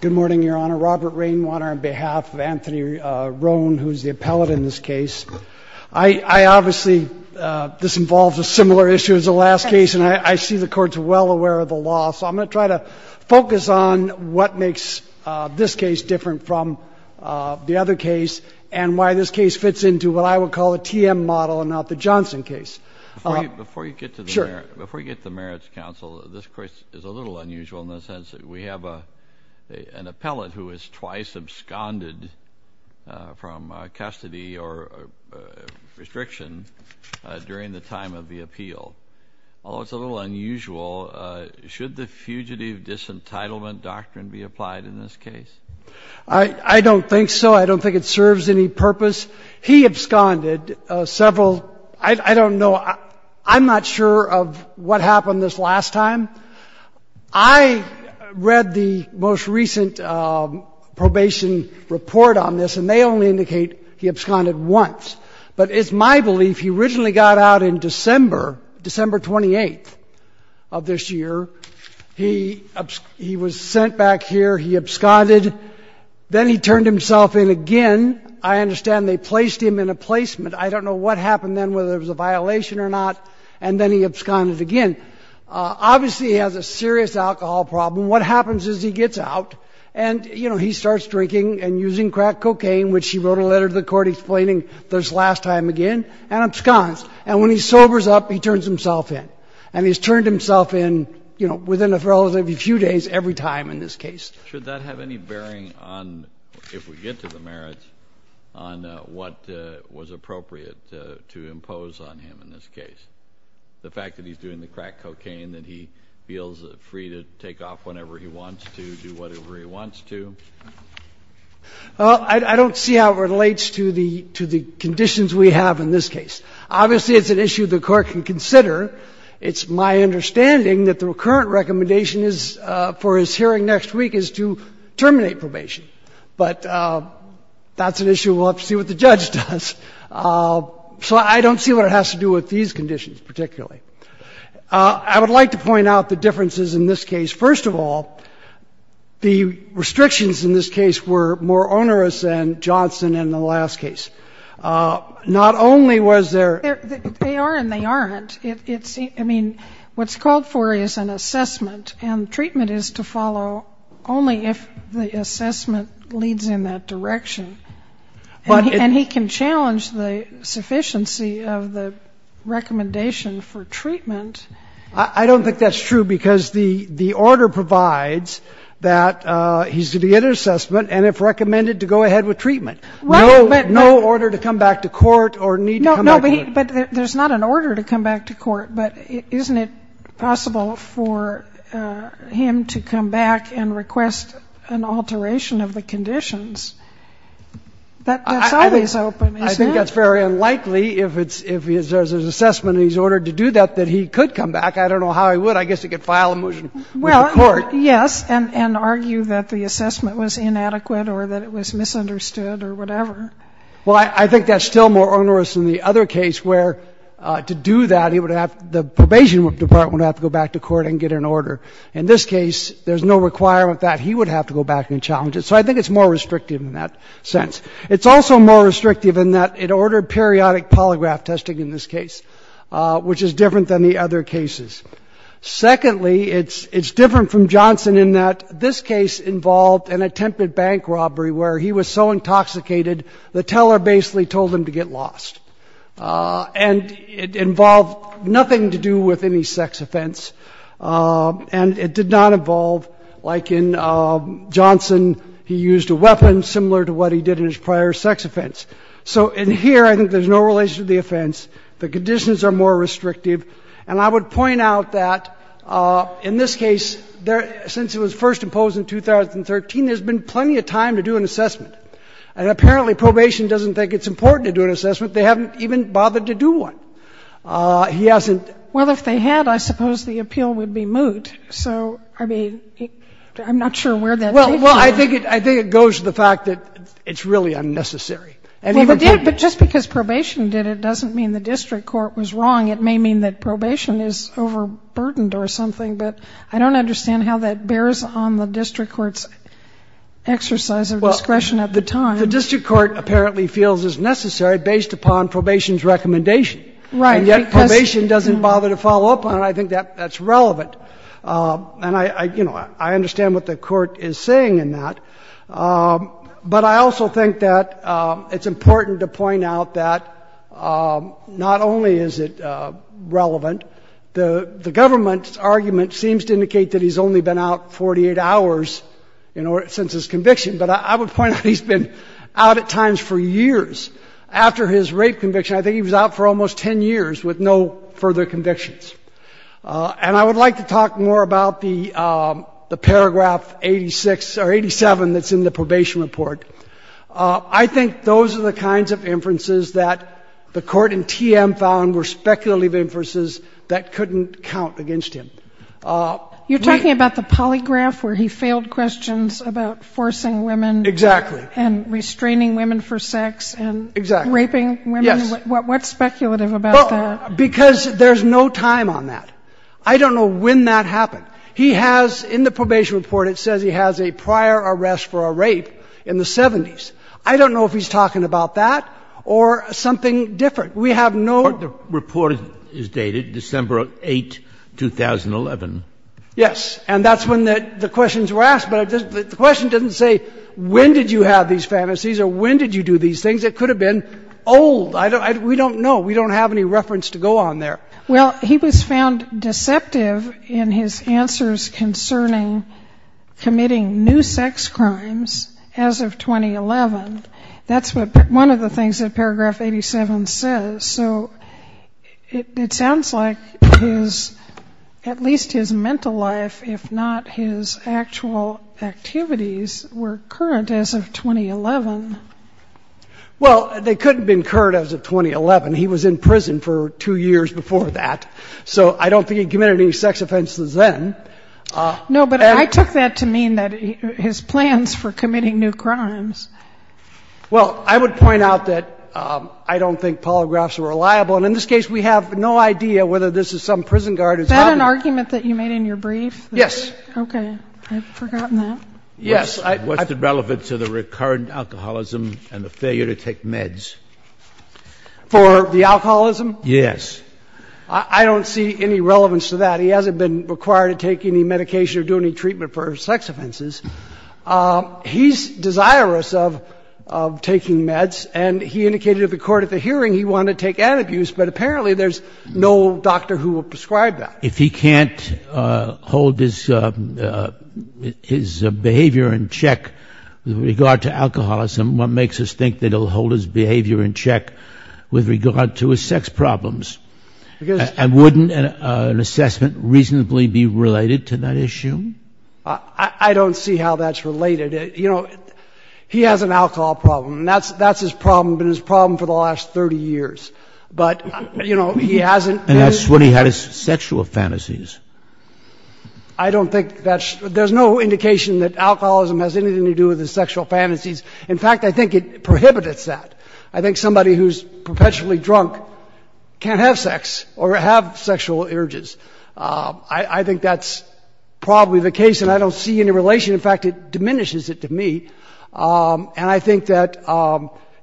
Good morning, Your Honor. Robert Rainwater on behalf of Anthony Rhone, who is the appellate in this case. I obviously, this involves a similar issue as the last case, and I see the courts well aware of the law, so I'm going to try to focus on what makes this case different from the other case and why this case fits into what I would call a TM model and not the Johnson case. Before you get to the merits counsel, this case is a little unusual in the sense that we have an appellate who is twice absconded from custody or restriction during the time of the appeal. Although it's a little unusual, should the fugitive disentitlement doctrine be applied in this case? I don't think so. I don't think it serves any purpose. He absconded several, I don't know, I'm not sure of what happened this last time. I read the most recent probation report on this, and they only indicate he absconded once. But it's my belief he originally got out in December, December 28th of this year. He was sent back here. He absconded. Then he turned himself in again. I understand they placed him in a placement. I don't know what happened then, whether it was a violation or not. And then he absconded again. Obviously, he has a serious alcohol problem. What happens is he gets out and, you know, he starts drinking and using crack cocaine, which he wrote a letter to the Court explaining this last time again, and absconds. And when he sobers up, he turns himself in. And he's turned himself in, you know, within a relatively few days every time in this case. Kennedy, should that have any bearing on, if we get to the merits, on what was appropriate to impose on him in this case, the fact that he's doing the crack cocaine, that he feels free to take off whenever he wants to, do whatever he wants to? Well, I don't see how it relates to the conditions we have in this case. Obviously, it's an issue the Court can consider. It's my understanding that the current recommendation is, for his hearing next week, is to terminate probation. But that's an issue we'll have to see what the judge does. So I don't see what it has to do with these conditions particularly. I would like to point out the differences in this case. First of all, the restrictions in this case were more onerous than Johnson in the last case. Not only was there a restriction on probation, but there was also a restriction on the use of drugs. I don't think that's true. I don't think that's true. They are, and they aren't. I mean, what's called for is an assessment, and treatment is to follow only if the assessment leads in that direction. And he can challenge the sufficiency of the recommendation for treatment. I don't think that's true, because the order provides that he's to be in an assessment and, if recommended, to go ahead with treatment. No order to come back to court or need to come back to court. No, but there's not an order to come back to court. But isn't it possible for him to come back and request an alteration of the conditions? That's always open, isn't it? I think that's very unlikely. If there's an assessment and he's ordered to do that, that he could come back. I don't know how he would. I guess he could file a motion with the court. Well, yes, and argue that the assessment was inadequate or that it was misunderstood or whatever. Well, I think that's still more onerous than the other case where, to do that, he would have to go back to court and get an order. In this case, there's no requirement that he would have to go back and challenge it. So I think it's more restrictive in that sense. It's also more restrictive in that it ordered periodic polygraph testing in this case, which is different than the other cases. Secondly, it's different from Johnson in that this case involved an attempted bank robbery where he was so intoxicated, the teller basically told him to get lost. And it involved nothing to do with any sex offense. And it did not involve, like in Johnson, he used a weapon similar to what he did in his prior sex offense. So in here, I think there's no relation to the offense. The conditions are more restrictive. And I would point out that in this case, since it was first imposed in 2013, there's been plenty of time to do an assessment. And apparently probation doesn't think it's important to do an assessment. They haven't even bothered to do one. He hasn't. Well, if they had, I suppose the appeal would be moot. So, I mean, I'm not sure where that takes you. Well, I think it goes to the fact that it's really unnecessary. Well, but just because probation did it doesn't mean the district court was wrong. It may mean that probation is overburdened or something. But I don't understand how that bears on the district court's exercise of discretion at the time. Well, the district court apparently feels it's necessary based upon probation's recommendation. Right. And yet probation doesn't bother to follow up on it. I think that's relevant. And I, you know, I understand what the court is saying in that. But I also think that it's important to point out that not only is it relevant, the government's argument seems to indicate that he's only been out 48 hours since his conviction. But I would point out he's been out at times for years after his rape conviction. I think he was out for almost 10 years with no further convictions. And I would like to talk more about the paragraph 86 or 87 that's in the probation report. I think those are the kinds of inferences that the court in TM found were speculative inferences that couldn't count against him. You're talking about the polygraph where he failed questions about forcing women. Exactly. And restraining women for sex and raping women? Yes. What's speculative about that? Because there's no time on that. I don't know when that happened. He has, in the probation report, it says he has a prior arrest for a rape in the 70s. I don't know if he's talking about that or something different. We have no ---- The report is dated December 8, 2011. Yes. And that's when the questions were asked. But the question doesn't say when did you have these fantasies or when did you do these things. It could have been old. We don't know. We don't have any reference to go on there. Well, he was found deceptive in his answers concerning committing new sex crimes as of 2011. That's one of the things that paragraph 87 says. So it sounds like at least his mental life, if not his actual activities, were current as of 2011. Well, they could have been current as of 2011. He was in prison for two years before that. So I don't think he committed any sex offenses then. No, but I took that to mean that his plans for committing new crimes. Well, I would point out that I don't think polygraphs are reliable. And in this case, we have no idea whether this is some prison guard who's ---- Is that an argument that you made in your brief? Yes. Okay. I've forgotten that. Yes. What's the relevance of the recurrent alcoholism and the failure to take meds? For the alcoholism? Yes. I don't see any relevance to that. He hasn't been required to take any medication or do any treatment for sex offenses. He's desirous of taking meds, and he indicated to the court at the hearing he wanted to take antabuse, but apparently there's no doctor who will prescribe that. If he can't hold his behavior in check with regard to alcoholism, what makes us think that he'll hold his behavior in check with regard to his sex problems? And wouldn't an assessment reasonably be related to that issue? I don't see how that's related. You know, he has an alcohol problem, and that's his problem, been his problem for the last 30 years. But, you know, he hasn't been ---- And that's when he had his sexual fantasies. I don't think that's ---- There's no indication that alcoholism has anything to do with his sexual fantasies. In fact, I think it prohibits that. I think somebody who's perpetually drunk can't have sex or have sexual urges. I think that's probably the case, and I don't see any relation. In fact, it diminishes it to me. And I think that,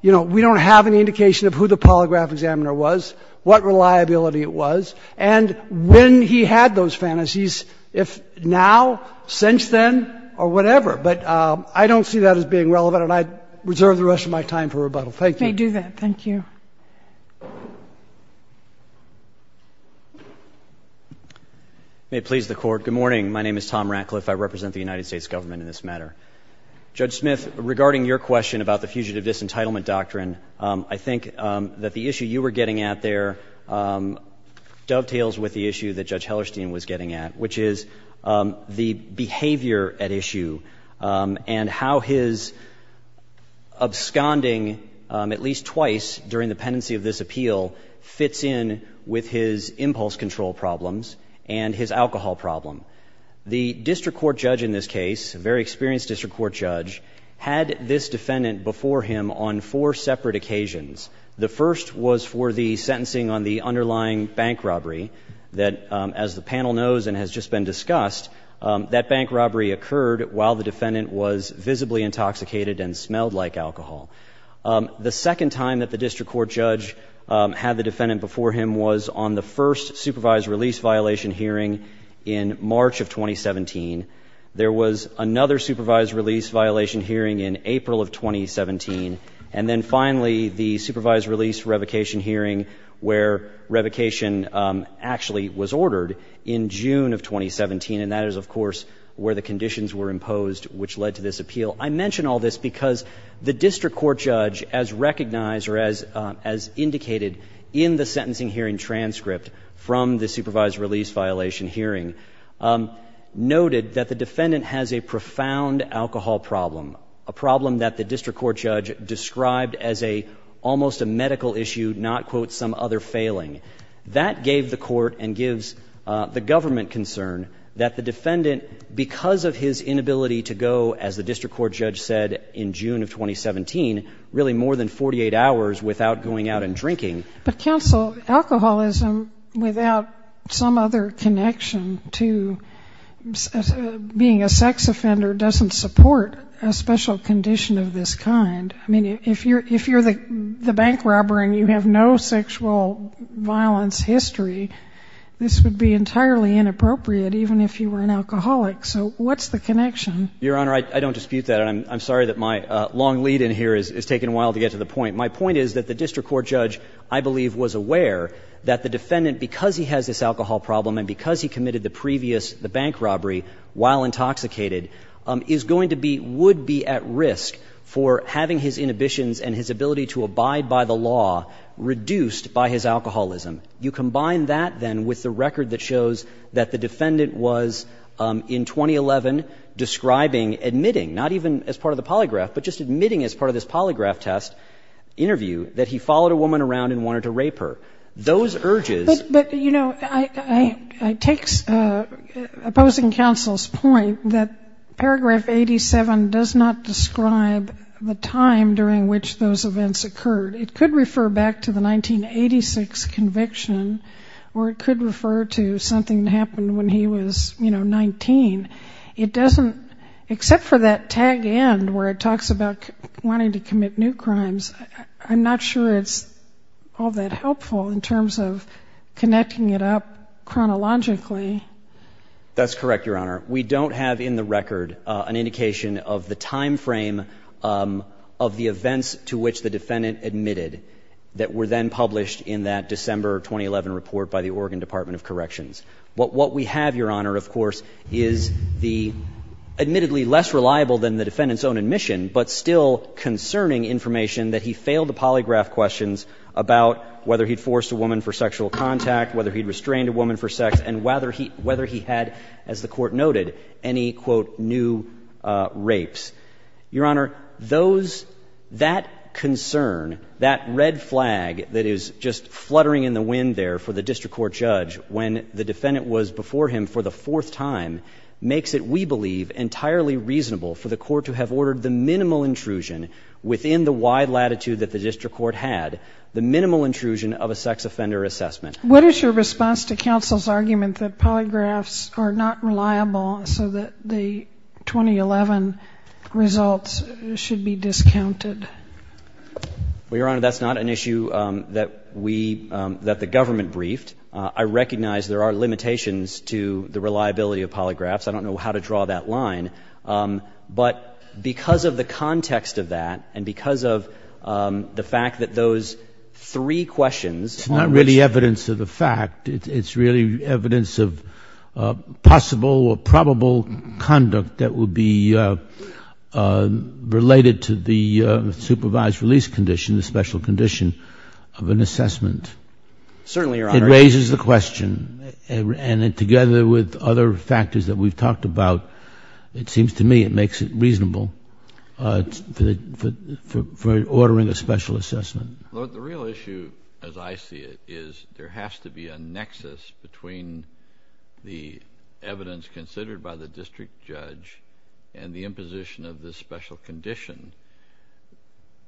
you know, we don't have any indication of who the polygraph examiner was, what reliability it was, and when he had those fantasies, if now, since then, or whatever. But I don't see that as being relevant, and I reserve the rest of my time for rebuttal. Thank you. You may do that. Thank you. May it please the Court. Good morning. My name is Tom Ratcliffe. I represent the United States Government in this matter. Judge Smith, regarding your question about the Fugitive Disentitlement Doctrine, I think that the issue you were getting at there dovetails with the issue that Judge Hellerstein was getting at, which is the behavior at issue and how his absconding, at least twice during the pendency of this appeal, was not a good thing. And I think that the issue you were getting at there dovetails with the issue that Judge Hellerstein was getting at, which is the behavior at issue and how his absconding, at least twice during the pendency of this appeal, fits in with his impulse control problems and his alcohol problem. The district court judge in this case, a very experienced district court judge, had this defendant before him on four separate occasions. The first was for the sentencing on the underlying bank robbery that, as the panel knows and has just been discussed, that bank robbery occurred while the defendant was visibly intoxicated and smelled like alcohol. The second time that the district court judge had the defendant before him was on the first supervised release violation hearing in March of 2017. There was another supervised release violation hearing in April of 2017. And then finally, the supervised release revocation hearing where revocation actually was ordered in June of 2017. And that is, of course, where the conditions were imposed which led to this appeal. I mention all this because the district court judge, as recognized or as indicated in the sentencing hearing transcript from the supervised release violation hearing, noted that the defendant has a profound alcohol problem, a problem that the district court judge described as a almost a medical issue, not, quote, some other failing. That gave the court and gives the government concern that the defendant, because of his inability to go, as the district court judge said in June of 2017, really more than 48 hours without going out and drinking. But, counsel, alcoholism without some other connection to being a sex offender doesn't support a special condition of this kind. I mean, if you're the bank robber and you have no sexual violence history, this would be entirely inappropriate, even if you were an alcoholic. So what's the connection? Your Honor, I don't dispute that, and I'm sorry that my long lead in here has taken a while to get to the point. My point is that the district court judge, I believe, was aware that the defendant, because he has this alcohol problem and because he committed the previous bank robbery while intoxicated, is going to be, would be at risk for having his inhibitions and his ability to abide by the law reduced by his alcoholism. And so he's going to be, in 2011, describing, admitting, not even as part of the polygraph, but just admitting as part of this polygraph test interview, that he followed a woman around and wanted to rape her. Those urges... But, you know, I take opposing counsel's point that paragraph 87 does not describe the time during which those events occurred. It could refer back to the 1986 conviction, or it could refer to something that happened when he was, you know, 19, and it doesn't, except for that tag end where it talks about wanting to commit new crimes, I'm not sure it's all that helpful in terms of connecting it up chronologically. That's correct, Your Honor. We don't have in the record an indication of the timeframe of the events to which the defendant admitted that were then published in that December 2011 report by the Oregon Department of Corrections. What we have, Your Honor, of course, is the admittedly less reliable than the defendant's own admission, but still concerning information that he failed to polygraph questions about whether he'd forced a woman for sexual contact, whether he'd restrained a woman for sex, and whether he had, as the Court noted, any, quote, new rapes. Your Honor, those, that concern, that red flag that is just fluttering in the wind there for the district court judge when the defendant was before him for the fourth time makes it, we believe, entirely reasonable for the court to have ordered the minimal intrusion within the wide latitude that the district court had, the minimal intrusion of a sex offender assessment. What is your response to counsel's argument that polygraphs are not reliable so that the 2011 results should be discounted? Well, Your Honor, that's not an issue that we, that the government briefed. I recognize there are limitations to the reliability of polygraphs. I don't know how to draw that line, but because of the context of that and because of the fact that those three questions It's not really evidence of the fact. It's really evidence of possible or probable conduct that would be related to the supervised release condition, the special condition of an assessment. Certainly, Your Honor. It raises the question, and together with other factors that we've talked about, it seems to me it makes it reasonable for ordering a special assessment. The real issue, as I see it, is there has to be a nexus between the evidence considered by the district judge and the imposition of this special condition.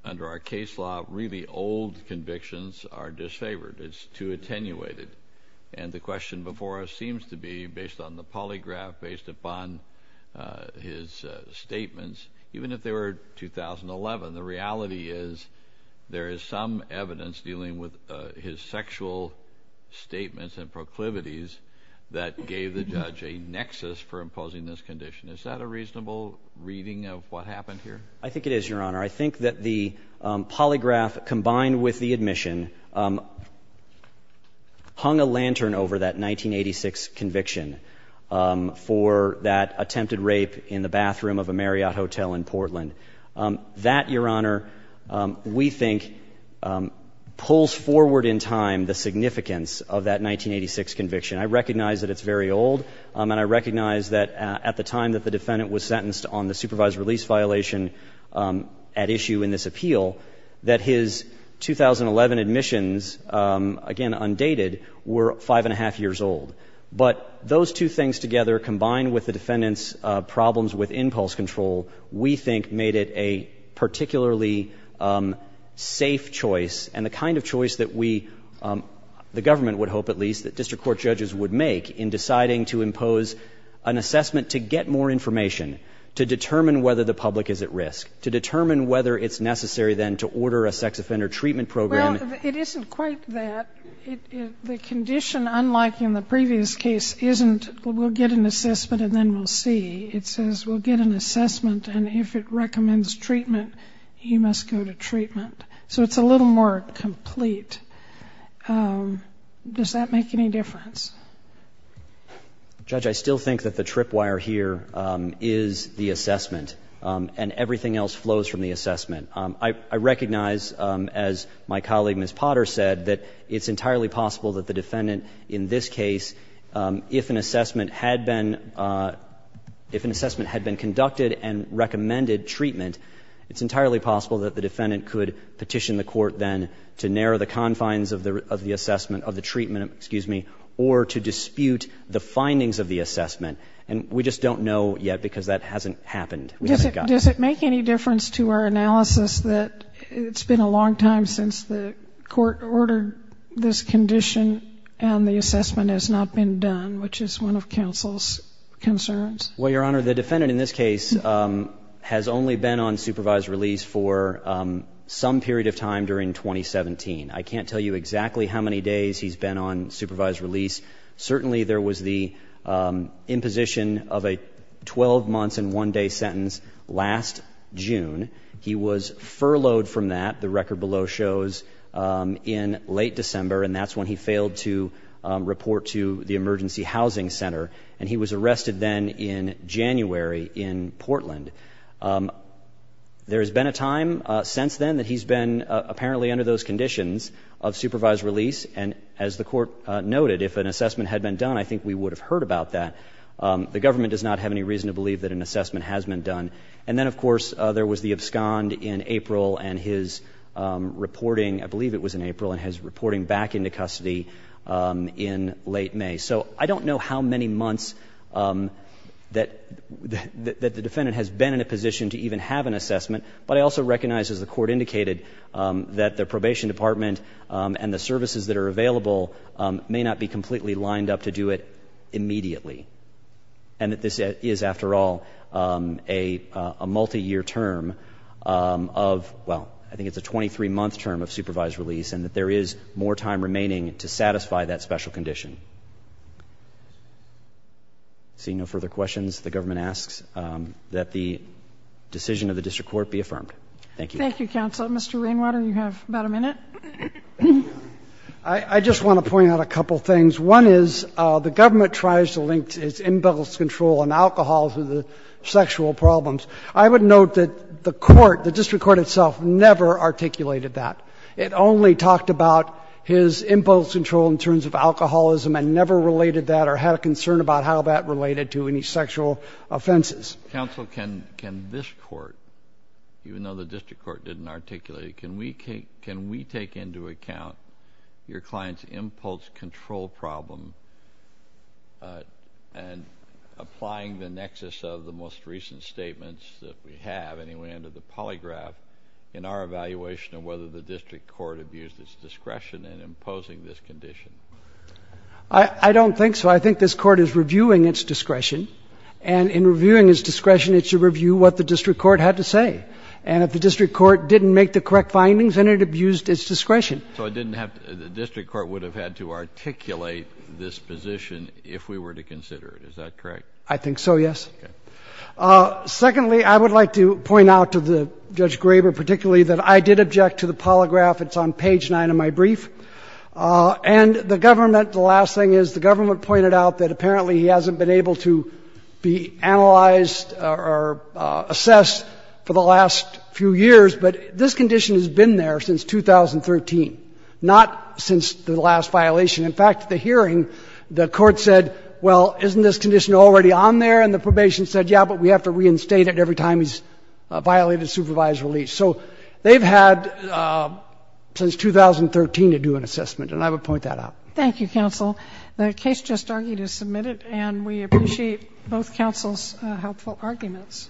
Under our case law, really old convictions are disfavored. It's too attenuated, and the question before us seems to be based on the polygraph, based upon his statements, even if they were 2011, the reality is there is some evidence dealing with his sexual statements and proclivities that gave the judge a nexus for imposing this condition. Is that a reasonable reading of what happened here? I think it is, Your Honor. I think that the polygraph combined with the admission hung a lantern over that 1986 conviction for that attempted rape in the bathroom of a Marriott hotel in Portland. That, Your Honor, we think pulls forward in time the significance of that 1986 conviction. I recognize that it's very old, and I recognize that at the time that the defendant was sentenced on the supervised release violation at issue in this appeal, that his 2011 admissions, again, undated, were five and a half years old. But those two things together, combined with the defendant's problems with impulse control, we think made it a particularly safe choice, and the kind of choice that we, the government would hope, at least, that district court judges would make in deciding to impose an assessment to get more information, to determine whether the public is at risk, to determine whether it's necessary then to order a sex offender treatment program. Well, it isn't quite that. The condition, unlike in the previous case, isn't we'll get an assessment and then we'll see. It says we'll get an assessment, and if it recommends treatment, he must go to treatment. So it's a little more complete. Does that make any difference? Judge, I still think that the tripwire here is the assessment, and everything else flows from the assessment. I recognize, as my colleague Ms. Potter said, that it's entirely possible that the defendant in this case, if an assessment had been conducted and recommended treatment, it's entirely possible that the defendant could petition the court then to narrow the confines of the assessment, of the treatment, excuse me, or to dispute the findings of the assessment. And we just don't know yet, because that hasn't happened. Does it make any difference to our analysis that it's been a long time since the court ordered this condition and the assessment has not been done, which is one of counsel's concerns? Well, Your Honor, the defendant in this case has only been on supervised release for some period of time during 2017. I can't tell you exactly how many days he's been on supervised release. Certainly there was the imposition of a 12-months-and-one-day sentence last June. He was furloughed from that, the record below shows, in late December, and that's when he failed to report to the Emergency Housing Center, and he was arrested then in January in Portland. There has been a time since then that he's been apparently under those conditions of supervised release, and as the court noted, if an assessment had been done, I think we would have heard about that. The government does not have any reason to believe that an assessment has been done. And then, of course, there was the abscond in April and his reporting, I believe it was in April, and his reporting back into custody in late May. So I don't know how many months that the defendant has been in a position to even have an assessment, but I also recognize, as the court indicated, that the probation department and the services that are available may not be completely lined up to do it immediately, and that this is, after all, a multi-year term of, well, I think it's a 23-month term of supervised release, and that there is more time remaining to satisfy that special condition. Seeing no further questions, the government asks that the decision of the district court be affirmed. Thank you. Thank you, counsel. Mr. Rainwater, you have about a minute. I just want to point out a couple things. One is the government tries to link its impulse control and alcohol to the sexual problems. I would note that the court, the district court itself, never articulated that. It only talked about his impulse control in terms of alcoholism and never related that or had a concern about how that related to any sexual offenses. Counsel, can this court, even though the district court didn't articulate it, can we take into account your client's impulse control problem and applying the nexus of the most recent statements that we have, anyway, under the polygraph in our evaluation of whether the district court abused its discretion in imposing this condition? I don't think so. I think this court is reviewing its discretion, and in reviewing its discretion, it should review what the district court had to say. And if the district court didn't make the correct findings, then it abused its discretion. So it didn't have to — the district court would have had to articulate this position if we were to consider it. Is that correct? I think so, yes. Okay. Secondly, I would like to point out to Judge Graber particularly that I did object to the polygraph. It's on page 9 of my brief. And the government, the last thing is the government pointed out that apparently he hasn't been able to be analyzed or assessed for the last few years, but this condition has been there since 2013, not since the last violation. In fact, at the hearing, the court said, well, isn't this condition already on there? And the probation said, yeah, but we have to reinstate it every time he's violated supervised release. So they've had since 2013 to do an assessment, and I would point that out. Thank you, counsel. The case just argued is submitted, and we appreciate both counsel's helpful arguments.